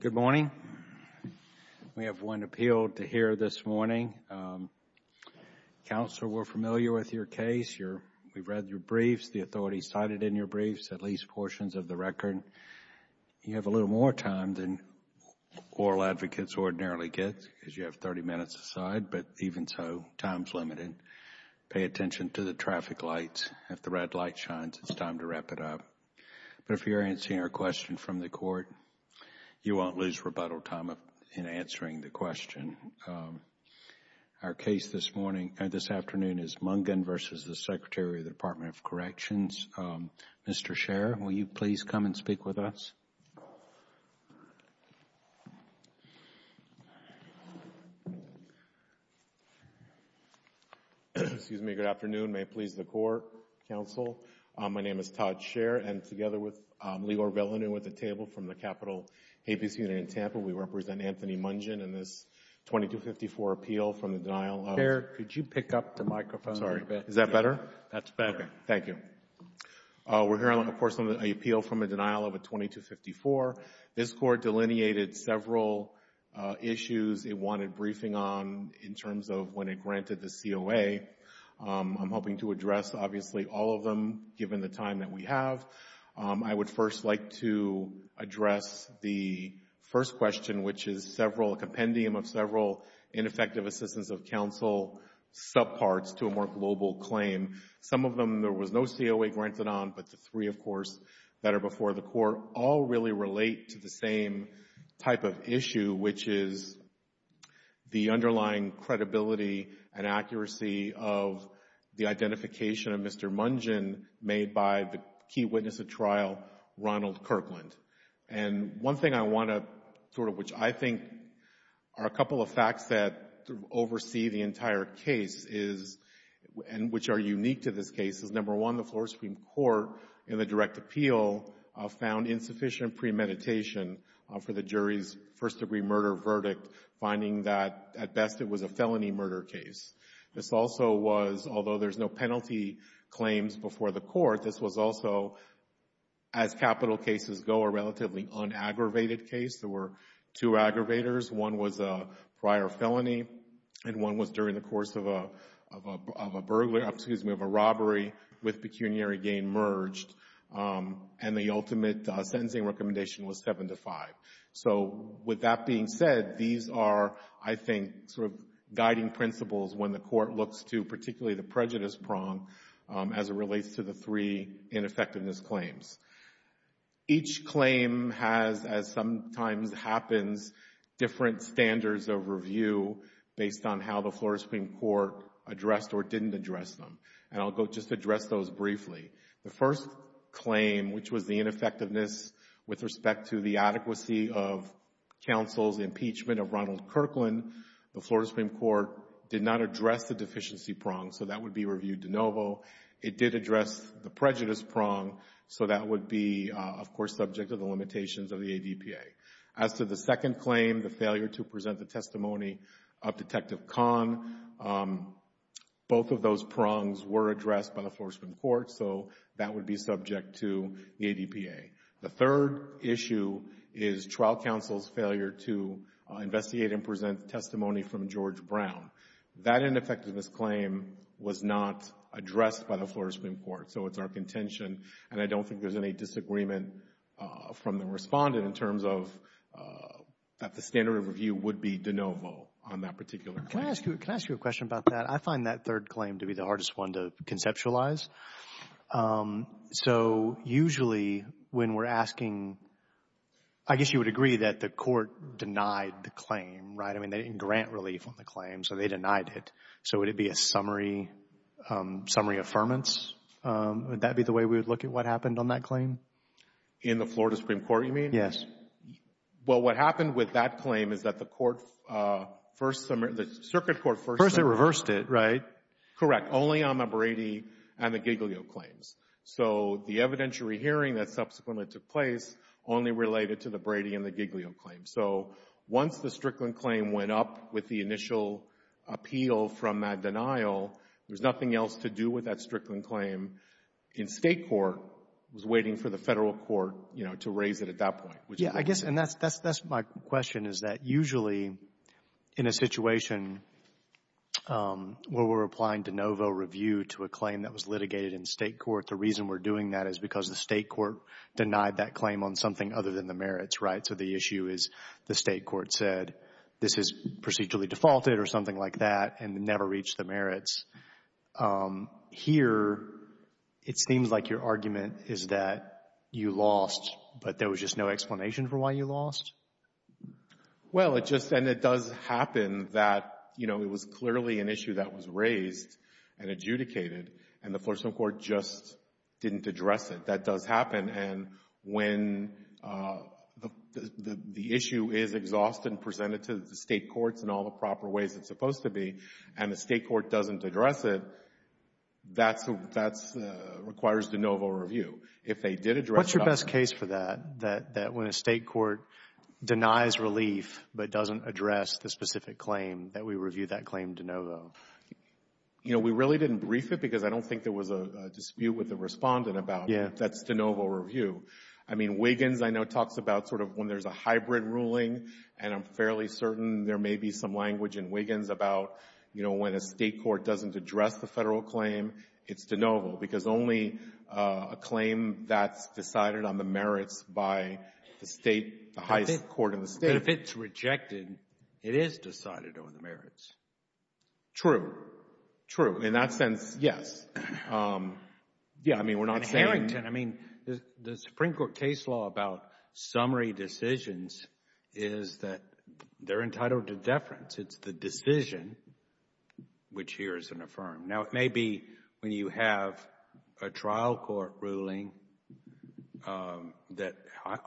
Good morning. We have one appeal to hear this morning. Counsel, we're familiar with your case, we've read your briefs, the authorities cited in your briefs, at least portions of the record. You have a little more time than oral advocates ordinarily get, because you have 30 minutes aside, but even so, time is limited. Pay attention to the traffic lights. If the red light shines, it's time to wrap it up, but if you're answering a question from the court, you won't lose rebuttal time in answering the question. Our case this afternoon is Mungin v. Secretary of the Department of Corrections. Mr. Scherr, will you please come and speak with us? Excuse me, good afternoon, may it please the Court, Counsel. My name is Todd Scherr, and together with Leor Villeneuve at the table from the Capitol Habeas Unit in Tampa, we represent Anthony Mungin in this 2254 appeal from the denial of Scherr, could you pick up the microphone? Sorry. Is that better? That's better. Okay. Thank you. We're hearing, of course, an appeal from a denial of a 2254. This Court delineated several issues it wanted briefing on in terms of when it granted the COA. I'm hoping to address, obviously, all of them given the time that we have. I would first like to address the first question, which is a compendium of several ineffective assistance of counsel subparts to a more global claim. Some of them there was no COA granted on, but the three, of course, that are before the Court all really relate to the same type of issue, which is the underlying credibility and accuracy of the identification of Mr. Mungin made by the key witness of trial, Ronald Kirkland. And one thing I want to, sort of, which I think are a couple of facts that oversee the unique to this case is, number one, the Florida Supreme Court in the direct appeal found insufficient premeditation for the jury's first-degree murder verdict, finding that, at best, it was a felony murder case. This also was, although there's no penalty claims before the Court, this was also, as capital cases go, a relatively unaggravated case. There were two aggravators. One was a prior felony, and one was during the course of a burglar, excuse me, of a robbery with pecuniary gain merged, and the ultimate sentencing recommendation was seven to five. So with that being said, these are, I think, sort of guiding principles when the Court looks to particularly the prejudice prong as it relates to the three ineffectiveness claims. Each claim has, as sometimes happens, different standards of review based on how the Florida Supreme Court addressed or didn't address them, and I'll go just address those briefly. The first claim, which was the ineffectiveness with respect to the adequacy of counsel's impeachment of Ronald Kirkland, the Florida Supreme Court did not address the deficiency prong, so that would be reviewed de novo. It did address the prejudice prong, so that would be, of course, subject to the limitations of the ADPA. As to the second claim, the failure to present the testimony of Detective Kahn, both of those prongs were addressed by the Florida Supreme Court, so that would be subject to the ADPA. The third issue is trial counsel's failure to investigate and present testimony from George Brown. That ineffectiveness claim was not addressed by the Florida Supreme Court, so it's our contention, and I don't think there's any disagreement from the Respondent in terms of that the standard of review would be de novo on that particular case. Can I ask you a question about that? I find that third claim to be the hardest one to conceptualize. So usually when we're asking, I guess you would agree that the Court denied the claim, right? I mean, they didn't grant relief on the claim, so they denied it. So would it be a summary, summary affirmance, would that be the way we would look at what happened on that claim? In the Florida Supreme Court, you mean? Yes. Well, what happened with that claim is that the Court first, the Circuit Court first reversed it, right? Correct. Only on the Brady and the Giglio claims. So the evidentiary hearing that subsequently took place only related to the Brady and the Giglio claims. So once the Strickland claim went up with the initial appeal from that denial, there's nothing else to do with that Strickland claim. In State court, it was waiting for the Federal court, you know, to raise it at that point. Yeah, I guess, and that's my question, is that usually in a situation where we're applying de novo review to a claim that was litigated in State court, the reason we're doing that is because the State court denied that claim on something other than the merits, right? So the issue is the State court said, this is procedurally defaulted or something like that and never reached the merits. Here it seems like your argument is that you lost, but there was just no explanation for why you lost. Well, it just, and it does happen that, you know, it was clearly an issue that was raised and adjudicated and the Florida Supreme Court just didn't address it. That does happen. And when the issue is exhausted and presented to the State courts in all the proper ways it's supposed to be, and the State court doesn't address it, that requires de novo review. If they did address it. What's your best case for that, that when a State court denies relief but doesn't address the specific claim, that we review that claim de novo? You know, we really didn't brief it because I don't think there was a dispute with the review. I mean, Wiggins, I know, talks about sort of when there's a hybrid ruling, and I'm fairly certain there may be some language in Wiggins about, you know, when a State court doesn't address the Federal claim, it's de novo because only a claim that's decided on the merits by the State, the highest court in the State. But if it's rejected, it is decided on the merits. True. True. In that sense, yes. Yeah. I mean, we're not saying — The Supreme Court case law about summary decisions is that they're entitled to deference. It's the decision which here is an affirm. Now, it may be when you have a trial court ruling that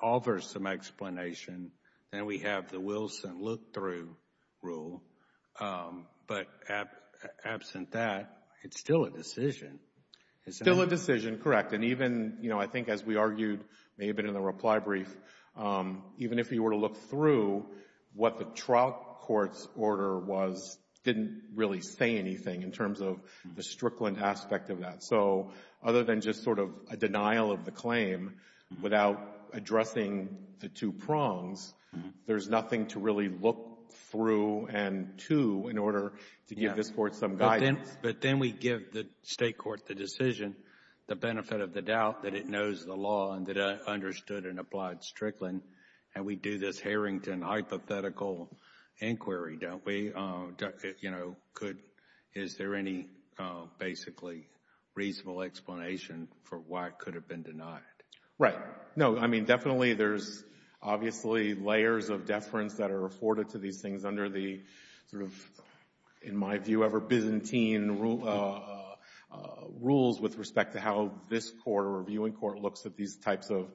offers some explanation, then we have the Wilson look-through rule, but absent that, it's still a decision. It's still a decision. Correct. And even, you know, I think as we argued, maybe in the reply brief, even if you were to look through what the trial court's order was, didn't really say anything in terms of the Strickland aspect of that. So other than just sort of a denial of the claim without addressing the two prongs, there's nothing to really look through and to in order to give this Court some guidance. But then we give the State court the decision, the benefit of the doubt that it knows the law and that it understood and applied Strickland, and we do this Harrington hypothetical inquiry, don't we? You know, could — is there any basically reasonable explanation for why it could have been denied? Right. No. I mean, definitely there's obviously layers of deference that are afforded to these things under the sort of, in my view, ever-Byzantine rules with respect to how this Court or reviewing court looks at these types of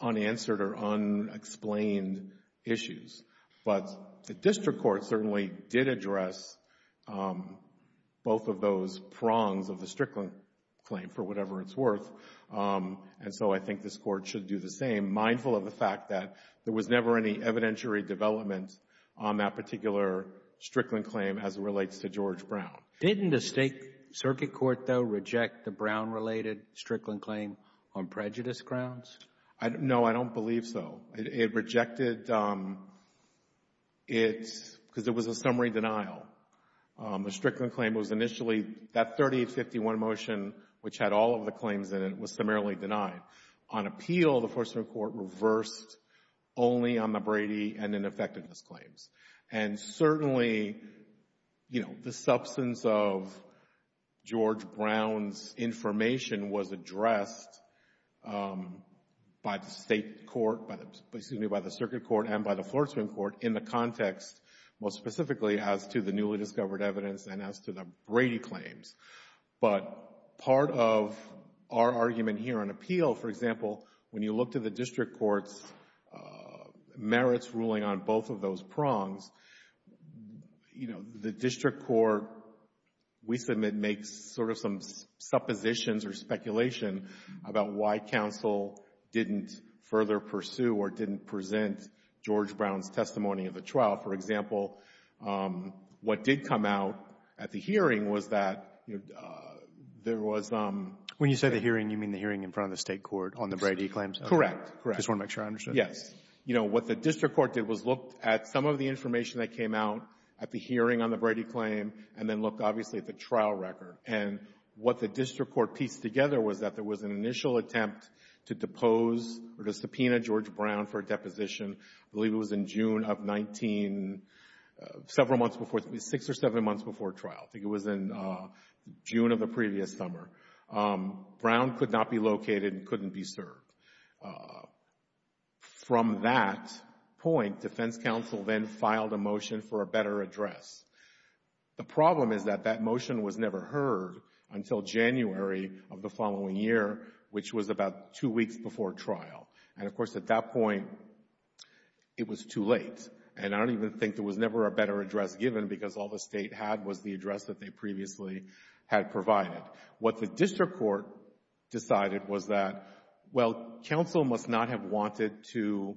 unanswered or unexplained issues. But the district court certainly did address both of those prongs of the Strickland claim for whatever it's worth. And so I think this Court should do the same, mindful of the fact that there was never any evidentiary development on that particular Strickland claim as it relates to George Brown. Didn't the State circuit court, though, reject the Brown-related Strickland claim on prejudice grounds? No. I don't believe so. It rejected it because it was a summary denial. The Strickland claim was initially — that 3051 motion, which had all of the claims in it, was summarily denied. On appeal, the Flortsman Court reversed only on the Brady and ineffectiveness claims. And certainly, you know, the substance of George Brown's information was addressed by the State court — excuse me, by the circuit court and by the Flortsman court in the context most specifically as to the newly discovered evidence and as to the Brady claims. But part of our argument here on appeal, for example, when you look to the district court's merits ruling on both of those prongs, you know, the district court, we submit, makes sort of some suppositions or speculation about why counsel didn't further pursue or didn't present George Brown's testimony of the trial. For example, what did come out at the hearing was that there was — When you say the hearing, you mean the hearing in front of the State court on the Brady claims? Correct. Correct. Just want to make sure I understood. Yes. You know, what the district court did was looked at some of the information that came out at the hearing on the Brady claim and then looked, obviously, at the trial record. And what the district court pieced together was that there was an initial attempt to depose or to subpoena George Brown for deposition, I believe it was in June of 19 — several months before — it was six or seven months before trial. I think it was in June of the previous summer. Brown could not be located and couldn't be served. From that point, defense counsel then filed a motion for a better address. The problem is that that motion was never heard until January of the following year, which was about two weeks before trial. And, of course, at that point, it was too late. And I don't even think there was never a better address given because all the State had was the address that they previously had provided. What the district court decided was that, well, counsel must not have wanted to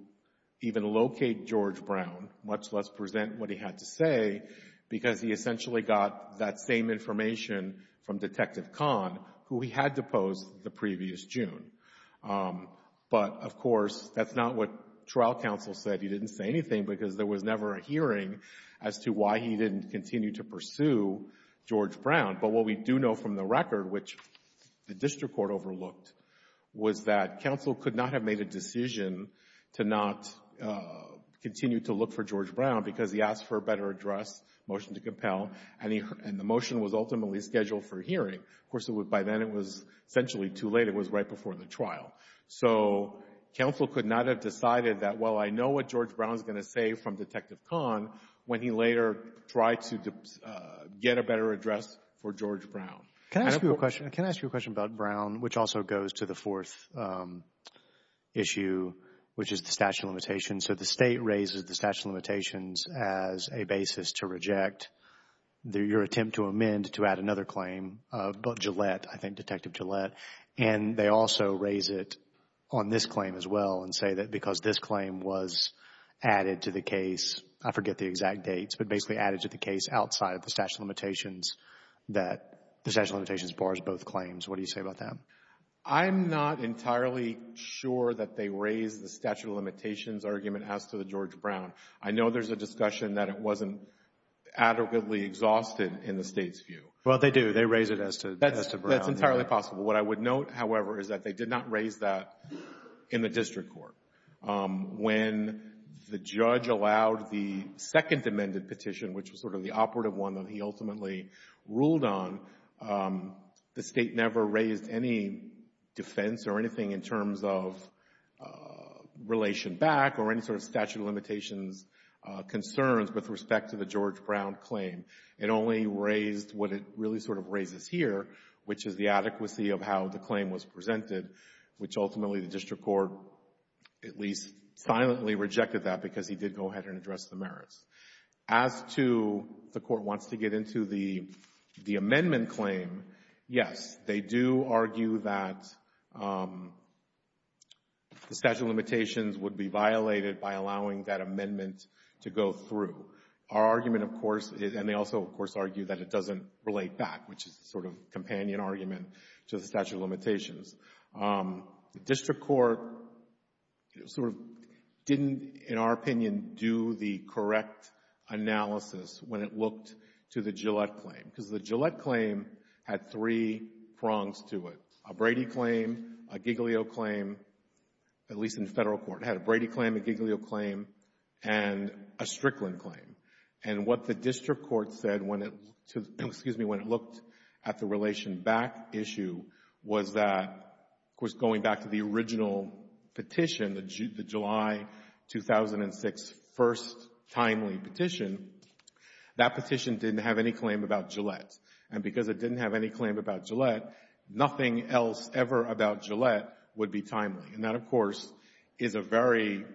even locate George Brown, much less present what he had to say, because he essentially got that same information from Detective Kahn, who he had deposed the previous June. But, of course, that's not what trial counsel said. He didn't say anything because there was never a hearing as to why he didn't continue to pursue George Brown. But what we do know from the record, which the district court overlooked, was that counsel could not have made a decision to not continue to look for George Brown because he asked for a better address, motion to compel, and the motion was ultimately scheduled for hearing. Of course, by then, it was essentially too late. It was right before the trial. So counsel could not have decided that, well, I know what George Brown is going to say from Detective Kahn when he later tried to get a better address for George Brown. Can I ask you a question? Can I ask you a question about Brown, which also goes to the fourth issue, which is the statute of limitations? So the State raises the statute of limitations as a basis to reject your attempt to amend to add another claim about Gillette, I think Detective Gillette. And they also raise it on this claim as well and say that because this claim was added to the case, I forget the exact dates, but basically added to the case outside of the statute of limitations, that the statute of limitations bars both claims. What do you say about that? I'm not entirely sure that they raise the statute of limitations argument as to the George Brown. I know there's a discussion that it wasn't adequately exhausted in the State's view. Well, they do. They raise it as to Brown. That's entirely possible. What I would note, however, is that they did not raise that in the district court. When the judge allowed the second amended petition, which was sort of the operative one that he ultimately ruled on, the State never raised any defense or anything in terms of relation back or any sort of statute of limitations concerns with respect to the George Brown claim. It only raised what it really sort of raises here, which is the adequacy of how the claim was presented, which ultimately the district court at least silently rejected that because he did go ahead and address the merits. As to the court wants to get into the amendment claim, yes, they do argue that the statute of limitations would be violated by allowing that amendment to go through. Our argument, of course, and they also, of course, argue that it doesn't relate back, which is a sort of companion argument to the statute of limitations. The district court sort of didn't, in our opinion, do the correct analysis when it looked to the Gillette claim because the Gillette claim had three prongs to it, a Brady claim, a Giglio claim, at least in Federal court. It had a Brady claim, a Giglio claim, and a Strickland claim, and what the district court said when it, excuse me, when it looked at the relation back issue was that, of course, going back to the original petition, the July 2006 first timely petition, that petition didn't have any claim about Gillette. And because it didn't have any claim about Gillette, nothing else ever about Gillette would be timely. And that, of course, is a very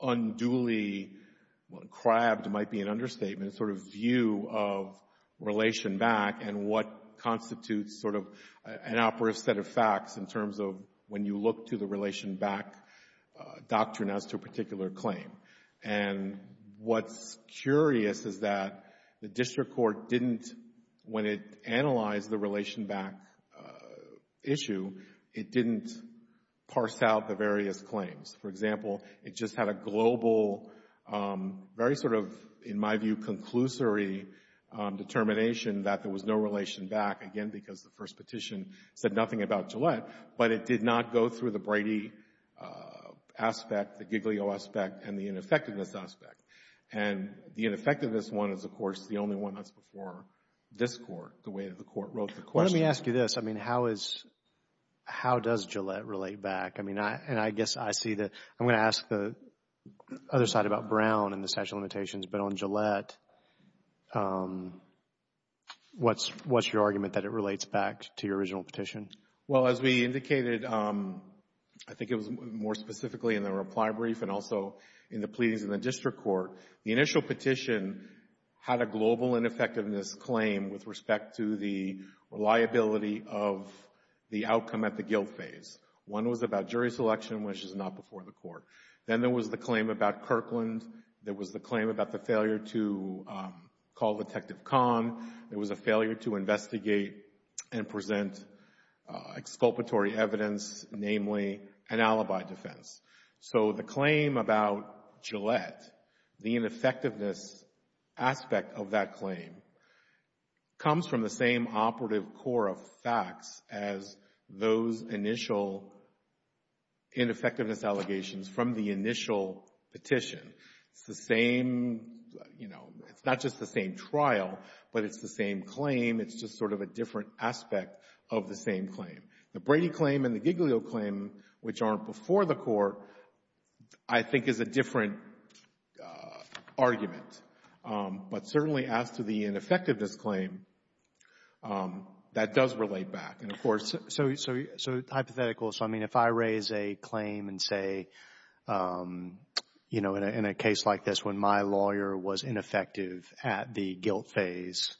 unduly, well, crabbed, might be an understatement, sort of view of relation back and what constitutes sort of an operative set of facts in terms of when you look to the relation back doctrine as to a particular claim. And what's curious is that the district court didn't, when it analyzed the relation back issue, it didn't parse out the various claims. For example, it just had a global, very sort of, in my view, conclusory determination that there was no relation back, again, because the first petition said nothing about Gillette. But it did not go through the Brady aspect, the Giglio aspect, and the ineffectiveness aspect. And the ineffectiveness one is, of course, the only one that's before this Court, the way that the Court wrote the question. Let me ask you this. I mean, how is, how does Gillette relate back? And I guess I see that, I'm going to ask the other side about Brown and the statute of limitations, but on Gillette, what's your argument that it relates back to your original petition? Well, as we indicated, I think it was more specifically in the reply brief and also in the pleadings in the district court, the initial petition had a global ineffectiveness claim with respect to the reliability of the outcome at the guilt phase. One was about jury selection, which is not before the Court. Then there was the claim about Kirkland. There was the claim about the failure to call Detective Kahn. There was a failure to investigate and present exculpatory evidence, namely an alibi defense. So the claim about Gillette, the ineffectiveness aspect of that claim comes from the same operative core of facts as those initial ineffectiveness allegations from the initial petition. It's the same, you know, it's not just the same trial, but it's the same claim. It's just sort of a different aspect of the same claim. The Brady claim and the Giglio claim, which aren't before the Court, I think is a different argument. But certainly as to the ineffectiveness claim, that does relate back. And of course, so hypothetical, so I mean if I raise a claim and say, you know, in a case like this when my lawyer was ineffective at the guilt phase,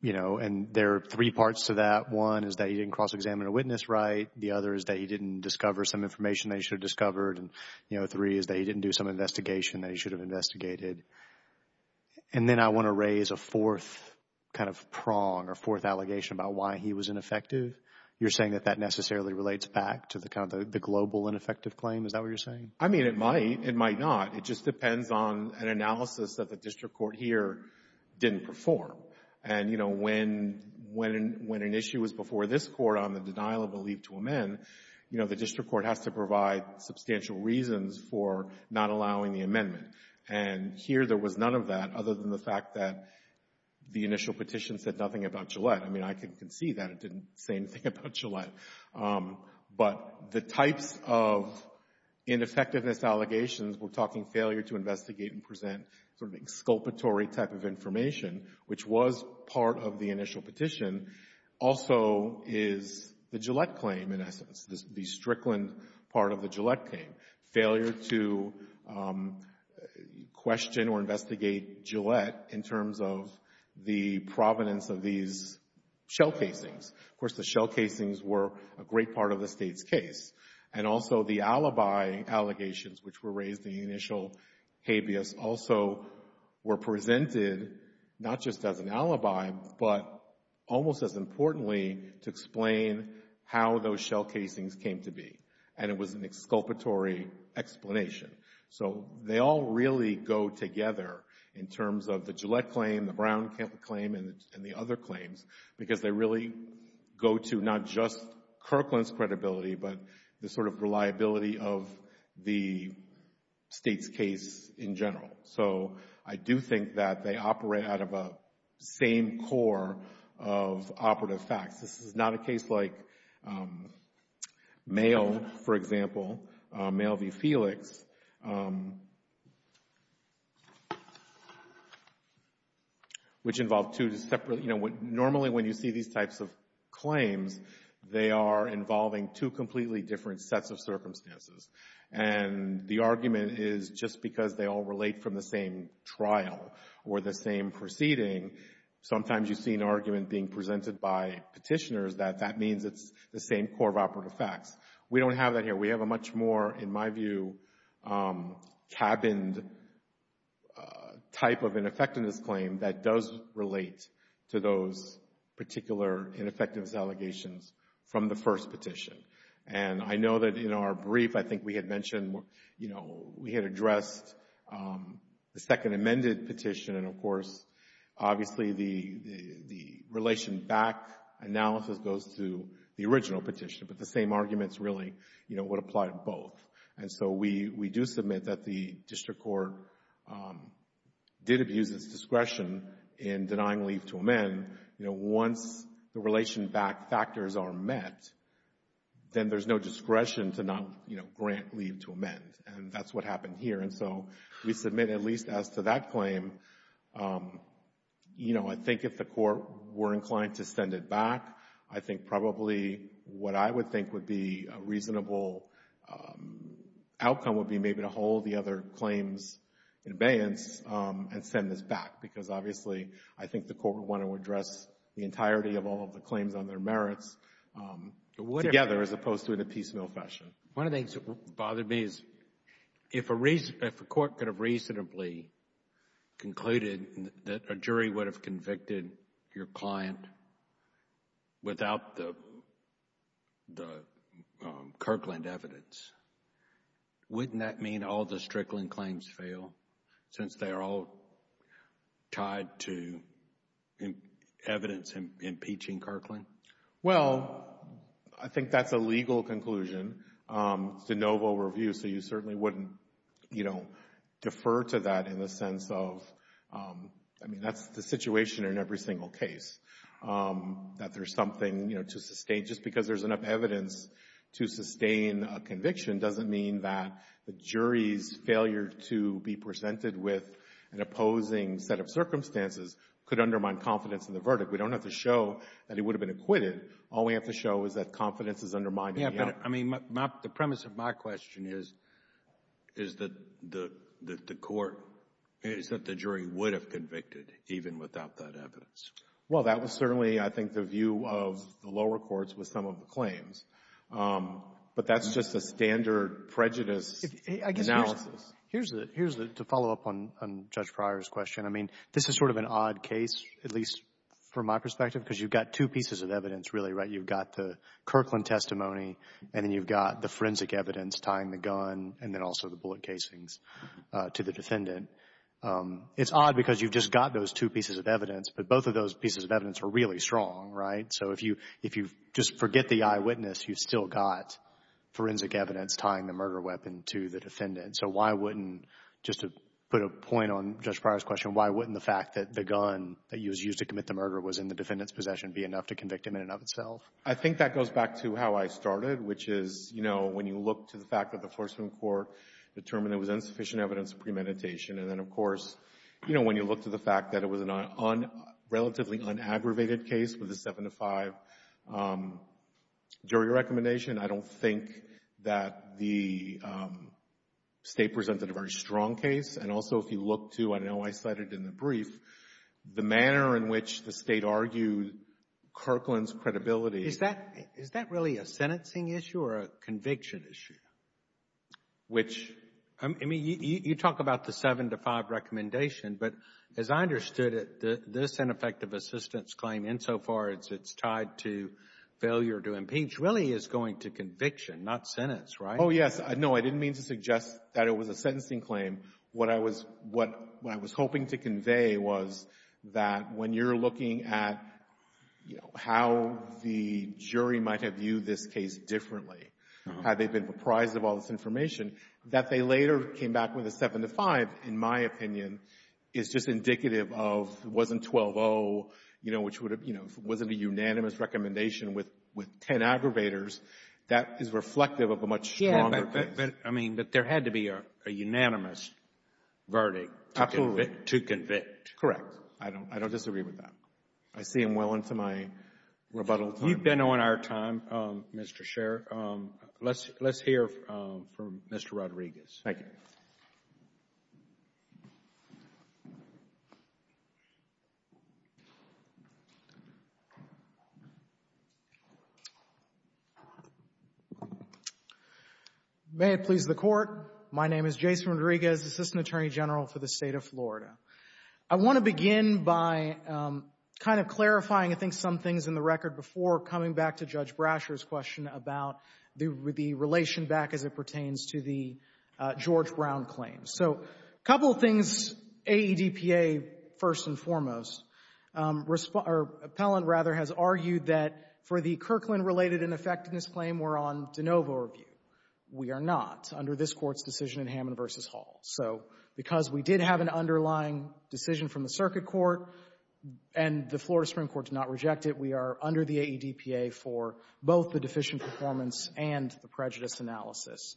you know, and there are three parts to that. One is that he didn't cross-examine a witness right. The other is that he didn't discover some information that he should have discovered. And, you know, three is that he didn't do some investigation that he should have investigated. And then I want to raise a fourth kind of prong or fourth allegation about why he was ineffective. You're saying that that necessarily relates back to the kind of the global ineffective claim? Is that what you're saying? I mean, it might. It might not. It just depends on an analysis that the district court here didn't perform. And, you know, when an issue was before this Court on the denial of a leave to amend, you know, the district court has to provide substantial reasons for not allowing the amendment. And here there was none of that other than the fact that the initial petition said nothing about Gillette. I mean, I can see that it didn't say anything about Gillette. But the types of ineffectiveness allegations, we're talking failure to investigate and present sort of exculpatory type of information, which was part of the initial the Strickland part of the Gillette claim. Failure to question or investigate Gillette in terms of the provenance of these shell casings. Of course, the shell casings were a great part of the State's case. And also the alibi allegations, which were raised in the initial habeas, also were And it was an exculpatory explanation. So they all really go together in terms of the Gillette claim, the Brown claim, and the other claims because they really go to not just Kirkland's credibility, but the sort of reliability of the State's case in general. So I do think that they operate out of a same core of operative facts. This is not a case like Mayo, for example, Mayo v. Felix, which involved two separate You know, normally when you see these types of claims, they are involving two completely different sets of circumstances. And the argument is just because they all relate from the same trial or the same proceeding, sometimes you see an argument being presented by petitioners that that means it's the same core of operative facts. We don't have that here. We have a much more, in my view, cabined type of ineffectiveness claim that does relate to those particular ineffectiveness allegations from the first petition. And I know that in our brief, I think we had mentioned, you know, we had addressed the second amended petition. And, of course, obviously, the relation back analysis goes to the original petition. But the same arguments really, you know, would apply to both. And so we do submit that the district court did abuse its discretion in denying leave to amend. You know, once the relation back factors are met, then there's no discretion to not, you know, grant leave to amend. And that's what happened here. And so we submit at least as to that claim. You know, I think if the Court were inclined to send it back, I think probably what I would think would be a reasonable outcome would be maybe to hold the other claims in abeyance and send this back. Because, obviously, I think the Court would want to address the entirety of all of the claims on their merits together as opposed to in a piecemeal fashion. One of the things that bothered me is if a Court could have reasonably concluded that a jury would have convicted your client without the Kirkland evidence, wouldn't that mean all the Strickland claims fail since they are all tied to evidence impeaching Kirkland? Well, I think that's a legal conclusion. It's de novo review, so you certainly wouldn't, you know, defer to that in the sense of, I mean, that's the situation in every single case, that there's something, you know, to sustain. Just because there's enough evidence to sustain a conviction doesn't mean that the jury's failure to be presented with an opposing set of circumstances could undermine confidence in the verdict. We don't have to show that it would have been acquitted. All we have to show is that confidence is undermined. Yeah, but, I mean, the premise of my question is, is that the Court, is that the jury would have convicted even without that evidence? Well, that was certainly, I think, the view of the lower courts with some of the claims. But that's just a standard prejudice analysis. Here's the to follow up on Judge Pryor's question. I mean, this is sort of an odd case, at least from my perspective, because you've got two pieces of evidence, really, right? You've got the Kirkland testimony and then you've got the forensic evidence tying the gun and then also the bullet casings to the defendant. It's odd because you've just got those two pieces of evidence, but both of those pieces of evidence are really strong, right? So if you, if you just forget the eyewitness, you've still got forensic evidence tying the murder weapon to the defendant. So why wouldn't, just to put a point on Judge Pryor's question, why wouldn't the fact that the gun that was used to commit the murder was in the defendant's possession be enough to convict him in and of itself? I think that goes back to how I started, which is, you know, when you look to the fact that the Forsman Court determined there was insufficient evidence of premeditation and then, of course, you know, when you look to the fact that it was a relatively unaggravated case with a 7 to 5 jury recommendation, I don't think that the State presented a very strong case. And also if you look to, I know I cited in the brief, the manner in which the State argued Kirkland's credibility. Is that, is that really a sentencing issue or a conviction issue? Which, I mean, you talk about the 7 to 5 recommendation, but as I understood it, this ineffective assistance claim, insofar as it's tied to failure to impeach, really is going to conviction, not sentence, right? Oh, yes. No, I didn't mean to suggest that it was a sentencing claim. What I was — what I was hoping to convey was that when you're looking at, you know, how the jury might have viewed this case differently had they been apprised of all this information, that they later came back with a 7 to 5, in my opinion, is just wasn't 12-0, you know, which would have, you know, if it wasn't a unanimous recommendation with 10 aggravators, that is reflective of a much stronger case. I mean, but there had to be a unanimous verdict to convict. Correct. I don't, I don't disagree with that. I see him well into my rebuttal time. You've been on our time, Mr. Sherr. Let's hear from Mr. Rodriguez. Thank you. May it please the Court. My name is Jason Rodriguez, Assistant Attorney General for the State of Florida. I want to begin by kind of clarifying, I think, some things in the record before coming back to Judge Brasher's question about the relation back as it pertains to the George Brown claims. So a couple of things, AEDPA, first and foremost, or Appellant, rather, has argued that for the Kirkland-related ineffectiveness claim, we're on de novo review. We are not under this Court's decision in Hammond v. Hall. So because we did have an underlying decision from the Circuit Court and the Florida Supreme Court did not reject it, we are under the AEDPA for both the deficient performance and the prejudice analysis.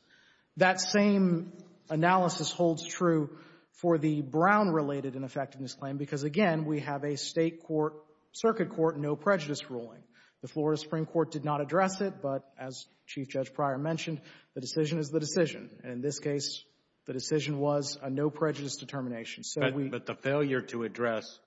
That same analysis holds true for the Brown-related ineffectiveness claim because, again, we have a State court, Circuit court, no prejudice ruling. The Florida Supreme Court did not address it, but as Chief Judge Pryor mentioned, the decision is the decision. And in this case, the decision was a no prejudice determination. But the failure to address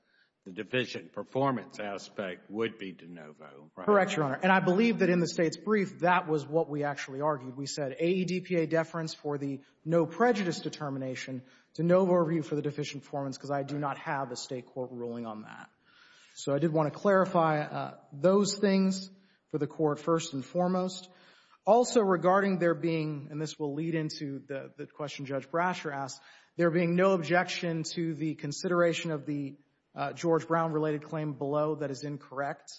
the deficient performance aspect would be de novo, right? Correct, Your Honor. And I believe that in the State's brief, that was what we actually argued. We said AEDPA deference for the no prejudice determination, de novo review for the deficient performance because I do not have a State court ruling on that. So I did want to clarify those things for the Court, first and foremost. Also, regarding there being, and this will lead into the question Judge Brasher asked, there being no objection to the consideration of the George Brown-related claim below that is incorrect.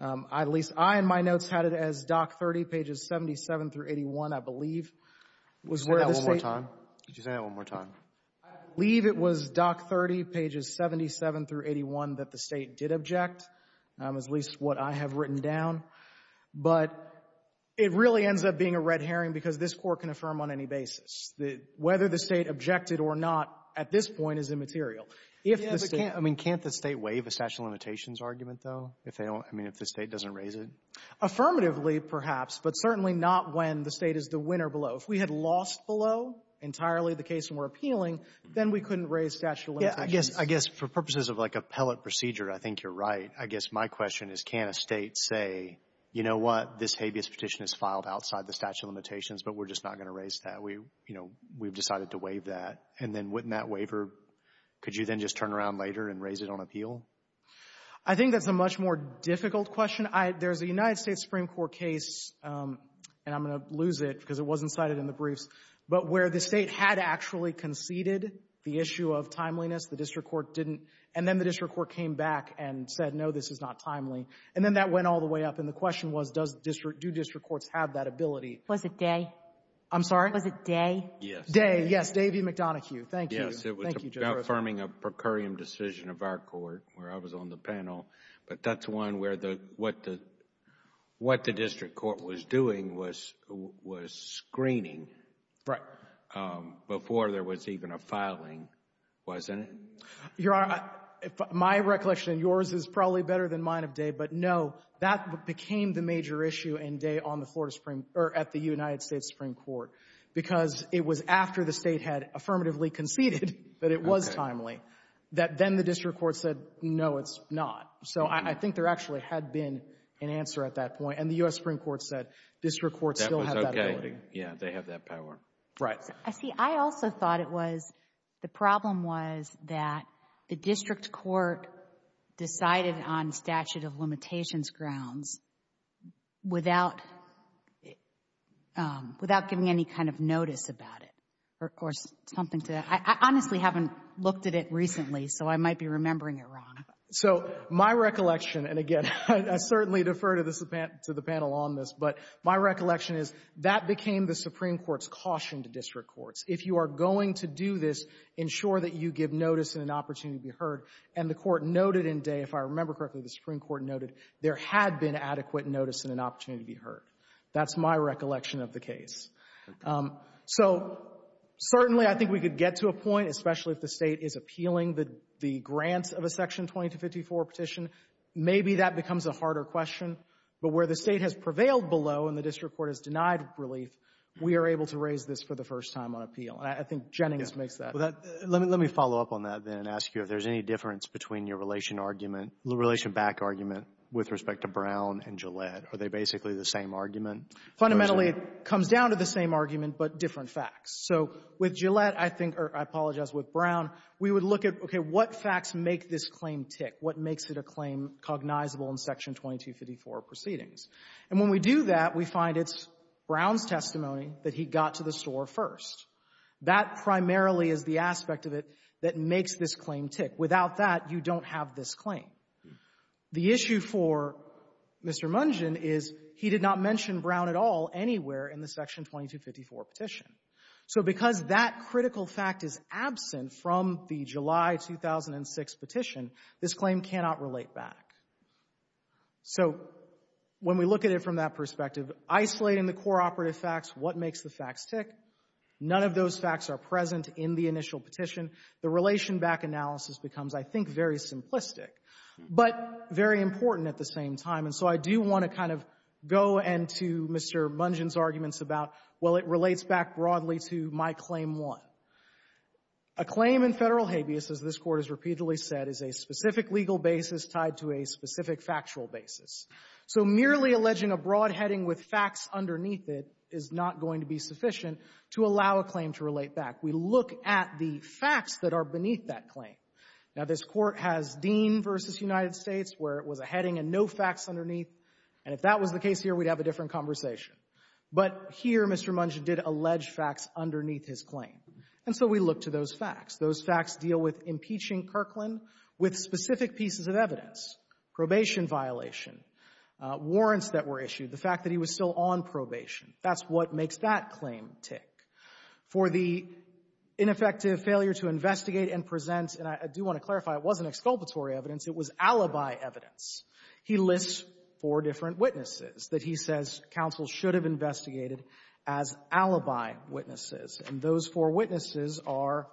At least I, in my notes, had it as Doc 30, pages 77 through 81, I believe, was where the State — Say that one more time. Could you say that one more time? I believe it was Doc 30, pages 77 through 81, that the State did object, at least what I have written down. But it really ends up being a red herring because this Court can affirm on any basis that whether the State objected or not at this point is immaterial. If the State — I mean, can't the State waive a statute of limitations argument, though, if they don't — I mean, if the State doesn't raise it? Affirmatively, perhaps, but certainly not when the State is the winner below. If we had lost below entirely the case and we're appealing, then we couldn't raise statute of limitations. Yeah, I guess — I guess for purposes of, like, appellate procedure, I think you're right. I guess my question is, can a State say, you know what, this habeas petition is filed outside the statute of limitations, but we're just not going to raise that? We — you know, we've decided to waive that. And then wouldn't that waiver — could you then just turn around later and raise it on appeal? I think that's a much more difficult question. I — there's a United States Supreme Court case, and I'm going to lose it because it wasn't cited in the briefs, but where the State had actually conceded the issue of timeliness. The district court didn't — and then the district court came back and said, no, this is not timely. And then that went all the way up, and the question was, does district — do district courts have that ability? Was it Day? I'm sorry? Was it Day? Day. Yes. Davey McDonoghue. Thank you. Yes. Thank you, Judge Rivera. It was about affirming a per curiam decision of our court. I was on the panel. But that's one where the — what the — what the district court was doing was screening before there was even a filing, wasn't it? Your Honor, my recollection and yours is probably better than mine of Day, but no, that became the major issue in Day on the floor of the Supreme — or at the United States Supreme Court, because it was after the State had affirmatively conceded that it was timely, that then the district court said, no, it's not. So I think there actually had been an answer at that point, and the U.S. Supreme Court said district courts still have that ability. That was okay. Yeah, they have that power. Right. I see. I also thought it was — the problem was that the district court decided on statute of limitations grounds without — without giving any kind of notice about it or something to that. I honestly haven't looked at it recently, so I might be remembering it wrong. So my recollection — and again, I certainly defer to the panel on this, but my recollection is that became the Supreme Court's caution to district courts. If you are going to do this, ensure that you give notice and an opportunity to be heard. And the Court noted in Day, if I remember correctly, the Supreme Court noted there had been adequate notice and an opportunity to be heard. That's my recollection of the case. Okay. So certainly I think we could get to a point, especially if the State is appealing the — the grants of a Section 2254 petition, maybe that becomes a harder question. But where the State has prevailed below and the district court has denied relief, we are able to raise this for the first time on appeal. And I think Jennings makes that — Yeah. Well, that — let me — let me follow up on that, then, and ask you if there's any difference between your relation argument — relation back argument with respect to Brown and Gillette. Are they basically the same argument? Fundamentally, it comes down to the same argument, but different facts. So with Gillette, I think — or I apologize, with Brown, we would look at, okay, what facts make this claim tick? What makes it a claim cognizable in Section 2254 proceedings? And when we do that, we find it's Brown's testimony that he got to the store first. That primarily is the aspect of it that makes this claim tick. Without that, you don't have this claim. The issue for Mr. Mungen is he did not mention Brown at all anywhere in the Section 2254 petition. So because that critical fact is absent from the July 2006 petition, this claim cannot relate back. So when we look at it from that perspective, isolating the core operative facts, what makes the facts tick? None of those facts are present in the initial petition. The relation back analysis becomes, I think, very simplistic. But very important at the same time. And so I do want to kind of go into Mr. Mungen's arguments about, well, it relates back broadly to my Claim 1. A claim in Federal habeas, as this Court has repeatedly said, is a specific legal basis tied to a specific factual basis. So merely alleging a broad heading with facts underneath it is not going to be sufficient to allow a claim to relate back. We look at the facts that are beneath that claim. Now, this Court has Dean v. United States, where it was a heading and no facts underneath. And if that was the case here, we'd have a different conversation. But here, Mr. Mungen did allege facts underneath his claim. And so we look to those facts. Those facts deal with impeaching Kirkland with specific pieces of evidence, probation violation, warrants that were issued, the fact that he was still on probation. That's what makes that claim tick. For the ineffective failure to investigate and present, and I do want to clarify, it wasn't exculpatory evidence. It was alibi evidence. He lists four different witnesses that he says counsel should have investigated as alibi witnesses. And those four witnesses are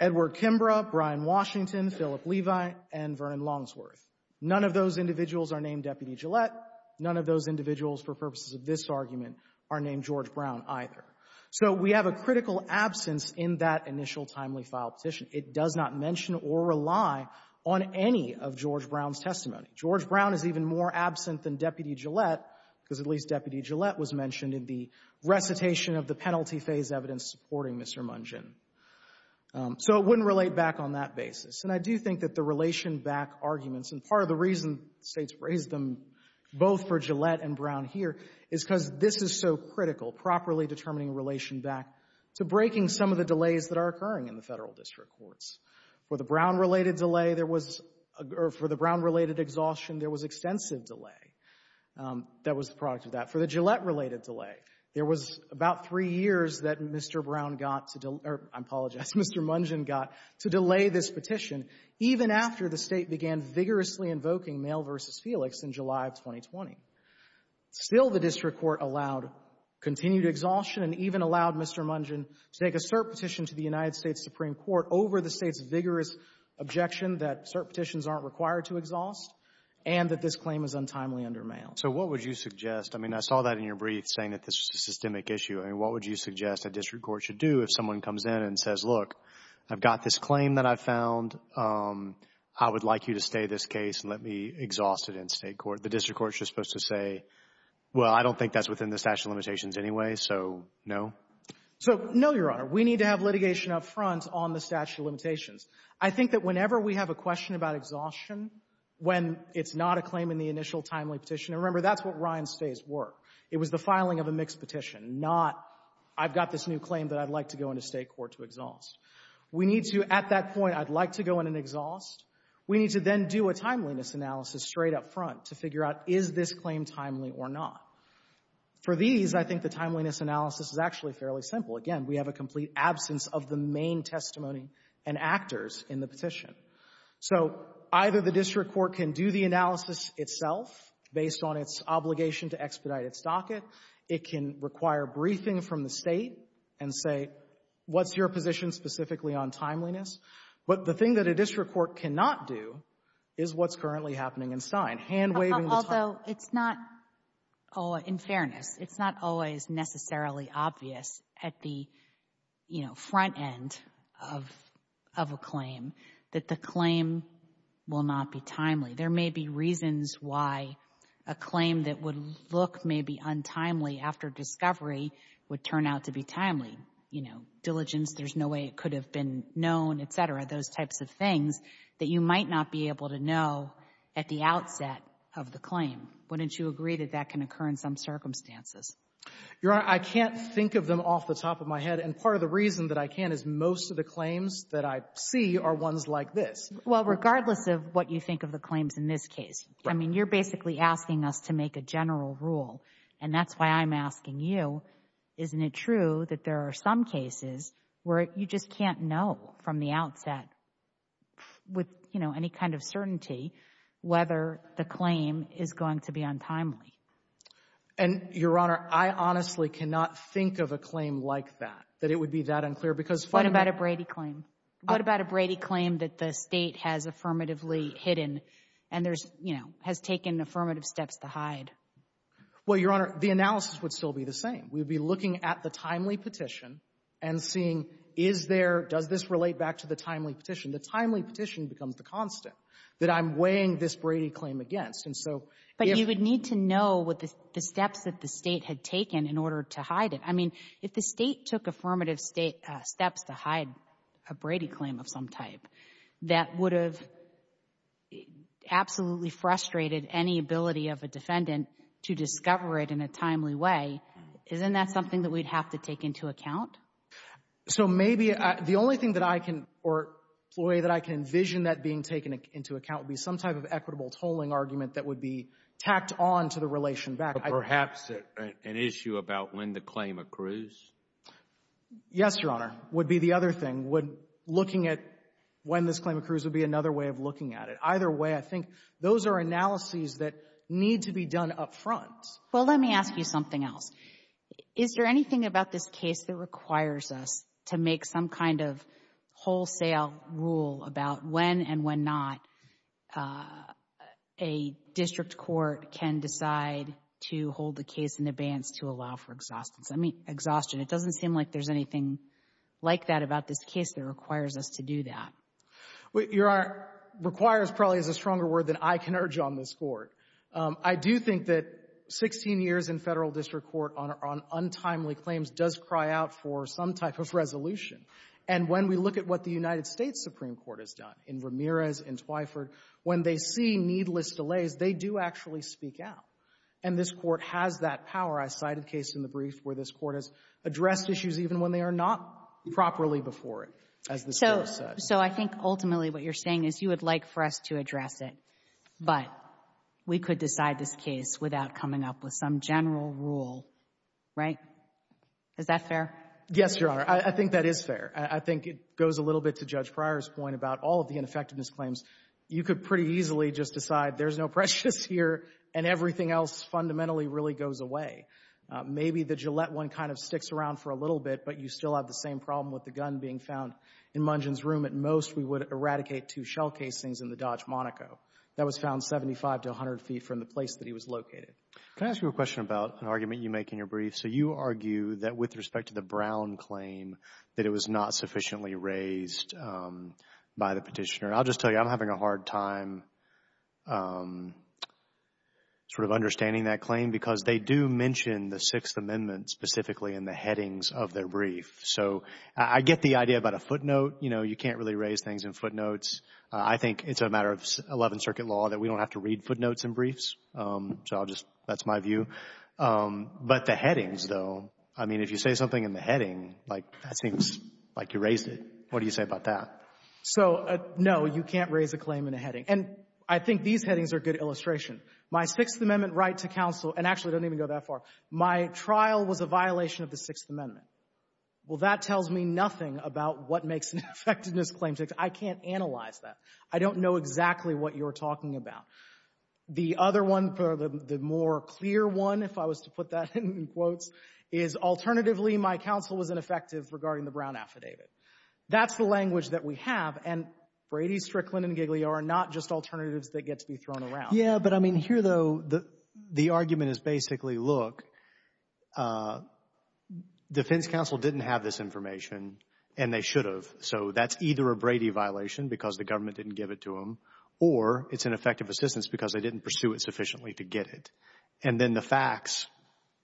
Edward Kimbra, Brian Washington, Philip Levi, and Vernon Longsworth. None of those individuals are named Deputy Gillette. None of those individuals, for purposes of this argument, are named George Brown either. So we have a critical absence in that initial timely file petition. It does not mention or rely on any of George Brown's testimony. George Brown is even more absent than Deputy Gillette, because at least Deputy Gillette was mentioned in the recitation of the penalty phase evidence supporting Mr. Mungen. So it wouldn't relate back on that basis. And I do think that the relation back arguments, and part of the reason States raised them both for Gillette and Brown here, is because this is so critical, properly determining relation back to breaking some of the delays that are occurring in the Federal District Courts. For the Brown-related delay, there was — or for the Brown-related exhaustion, there was extensive delay that was the product of that. For the Gillette-related delay, there was about three years that Mr. Brown got to — or, I apologize, Mr. Mungen got to delay this petition, even after the State began vigorously invoking Mail v. Felix in July of 2020. Still, the District Court allowed continued exhaustion and even allowed Mr. Mungen to take a cert petition to the United States Supreme Court over the State's vigorous objection that cert petitions aren't required to exhaust and that this claim is untimely under Mail. So what would you suggest? I mean, I saw that in your brief, saying that this is a systemic issue. I mean, what would you suggest a District Court should do if someone comes in and says, look, I've got this claim that I found. I would like you to stay this case and let me exhaust it in State court. The District Court is just supposed to say, well, I don't think that's within the statute of limitations anyway, so no? So, no, Your Honor. We need to have litigation up front on the statute of limitations. I think that whenever we have a question about exhaustion, when it's not a claim in the initial timely petition — and remember, that's what Ryan's stays were. It was the filing of a mixed petition, not I've got this new claim that I'd like to go into State court to exhaust. We need to, at that point, I'd like to go in and exhaust. We need to then do a timeliness analysis straight up front to figure out is this claim timely or not. For these, I think the timeliness analysis is actually fairly simple. Again, we have a complete absence of the main testimony and actors in the petition. So either the District Court can do the analysis itself based on its obligation to expedite its docket. It can require briefing from the State and say, what's your position specifically on timeliness? But the thing that a District Court cannot do is what's currently happening in Stein. Hand-waving the time. Although it's not, in fairness, it's not always necessarily obvious at the, you know, front end of a claim that the claim will not be timely. There may be reasons why a claim that would look maybe untimely after discovery would turn out to be timely. You know, diligence, there's no way it could have been known, et cetera, those types of things that you might not be able to know at the outset of the claim. Wouldn't you agree that that can occur in some circumstances? Your Honor, I can't think of them off the top of my head. And part of the reason that I can is most of the claims that I see are ones like this. Well, regardless of what you think of the claims in this case, I mean, you're basically asking us to make a general rule. And that's why I'm asking you, isn't it true that there are some cases where you just can't know from the outset with, you know, any kind of certainty whether the claim is going to be untimely? And, Your Honor, I honestly cannot think of a claim like that, that it would be that unclear. What about a Brady claim? What about a Brady claim that the State has affirmatively hidden and there's, you know, has taken affirmative steps to hide? Well, Your Honor, the analysis would still be the same. We'd be looking at the timely petition and seeing, is there, does this relate back to the timely petition? The timely petition becomes the constant that I'm weighing this Brady claim against. And so if you would need to know what the steps that the State had taken in order to hide it. If the State took affirmative steps to hide a Brady claim of some type, that would have absolutely frustrated any ability of a defendant to discover it in a timely way. Isn't that something that we'd have to take into account? So maybe the only thing that I can, or the way that I can envision that being taken into account would be some type of equitable tolling argument that would be tacked on to the relation back. Perhaps an issue about when the claim accrues? Yes, Your Honor. Would be the other thing. Would looking at when this claim accrues would be another way of looking at it. Either way, I think those are analyses that need to be done up front. Well, let me ask you something else. Is there anything about this case that requires us to make some kind of hold the case in advance to allow for exhaustion? It doesn't seem like there's anything like that about this case that requires us to do that. Your Honor, requires probably is a stronger word than I can urge on this Court. I do think that 16 years in Federal District Court on untimely claims does cry out for some type of resolution. And when we look at what the United States Supreme Court has done in Ramirez and Twyford, when they see needless delays, they do actually speak out. And this Court has that power. I cited a case in the brief where this Court has addressed issues even when they are not properly before it, as this Court says. So I think ultimately what you're saying is you would like for us to address it, but we could decide this case without coming up with some general rule, right? Is that fair? Yes, Your Honor. I think that is fair. I think it goes a little bit to Judge Pryor's point about all of the ineffectiveness claims. You could pretty easily just decide there's no prejudice here and everything fundamentally really goes away. Maybe the Gillette one kind of sticks around for a little bit, but you still have the same problem with the gun being found in Mungin's room. At most, we would eradicate two shell casings in the Dodge Monaco. That was found 75 to 100 feet from the place that he was located. Can I ask you a question about an argument you make in your brief? So you argue that with respect to the Brown claim, that it was not sufficiently raised by the petitioner. I'll just tell you, I'm having a hard time sort of understanding that claim because they do mention the Sixth Amendment specifically in the headings of their brief. So I get the idea about a footnote. You know, you can't really raise things in footnotes. I think it's a matter of 11th Circuit law that we don't have to read footnotes in briefs. So I'll just, that's my view. But the headings, though, I mean, if you say something in the heading, like that seems like you raised it. What do you say about that? So no, you can't raise a claim in a heading. And I think these headings are a good illustration. My Sixth Amendment right to counsel, and actually I don't even go that far, my trial was a violation of the Sixth Amendment. Well, that tells me nothing about what makes an effectiveness claim. I can't analyze that. I don't know exactly what you're talking about. The other one, the more clear one, if I was to put that in quotes, is alternatively my counsel was ineffective regarding the Brown affidavit. That's the language that we have. And Brady, Strickland, and Gigliar are not just alternatives that get to be thrown around. Yeah, but I mean, here, though, the argument is basically, look, defense counsel didn't have this information and they should have. So that's either a Brady violation because the government didn't give it to him or it's an effective assistance because they didn't pursue it sufficiently to get it. And then the facts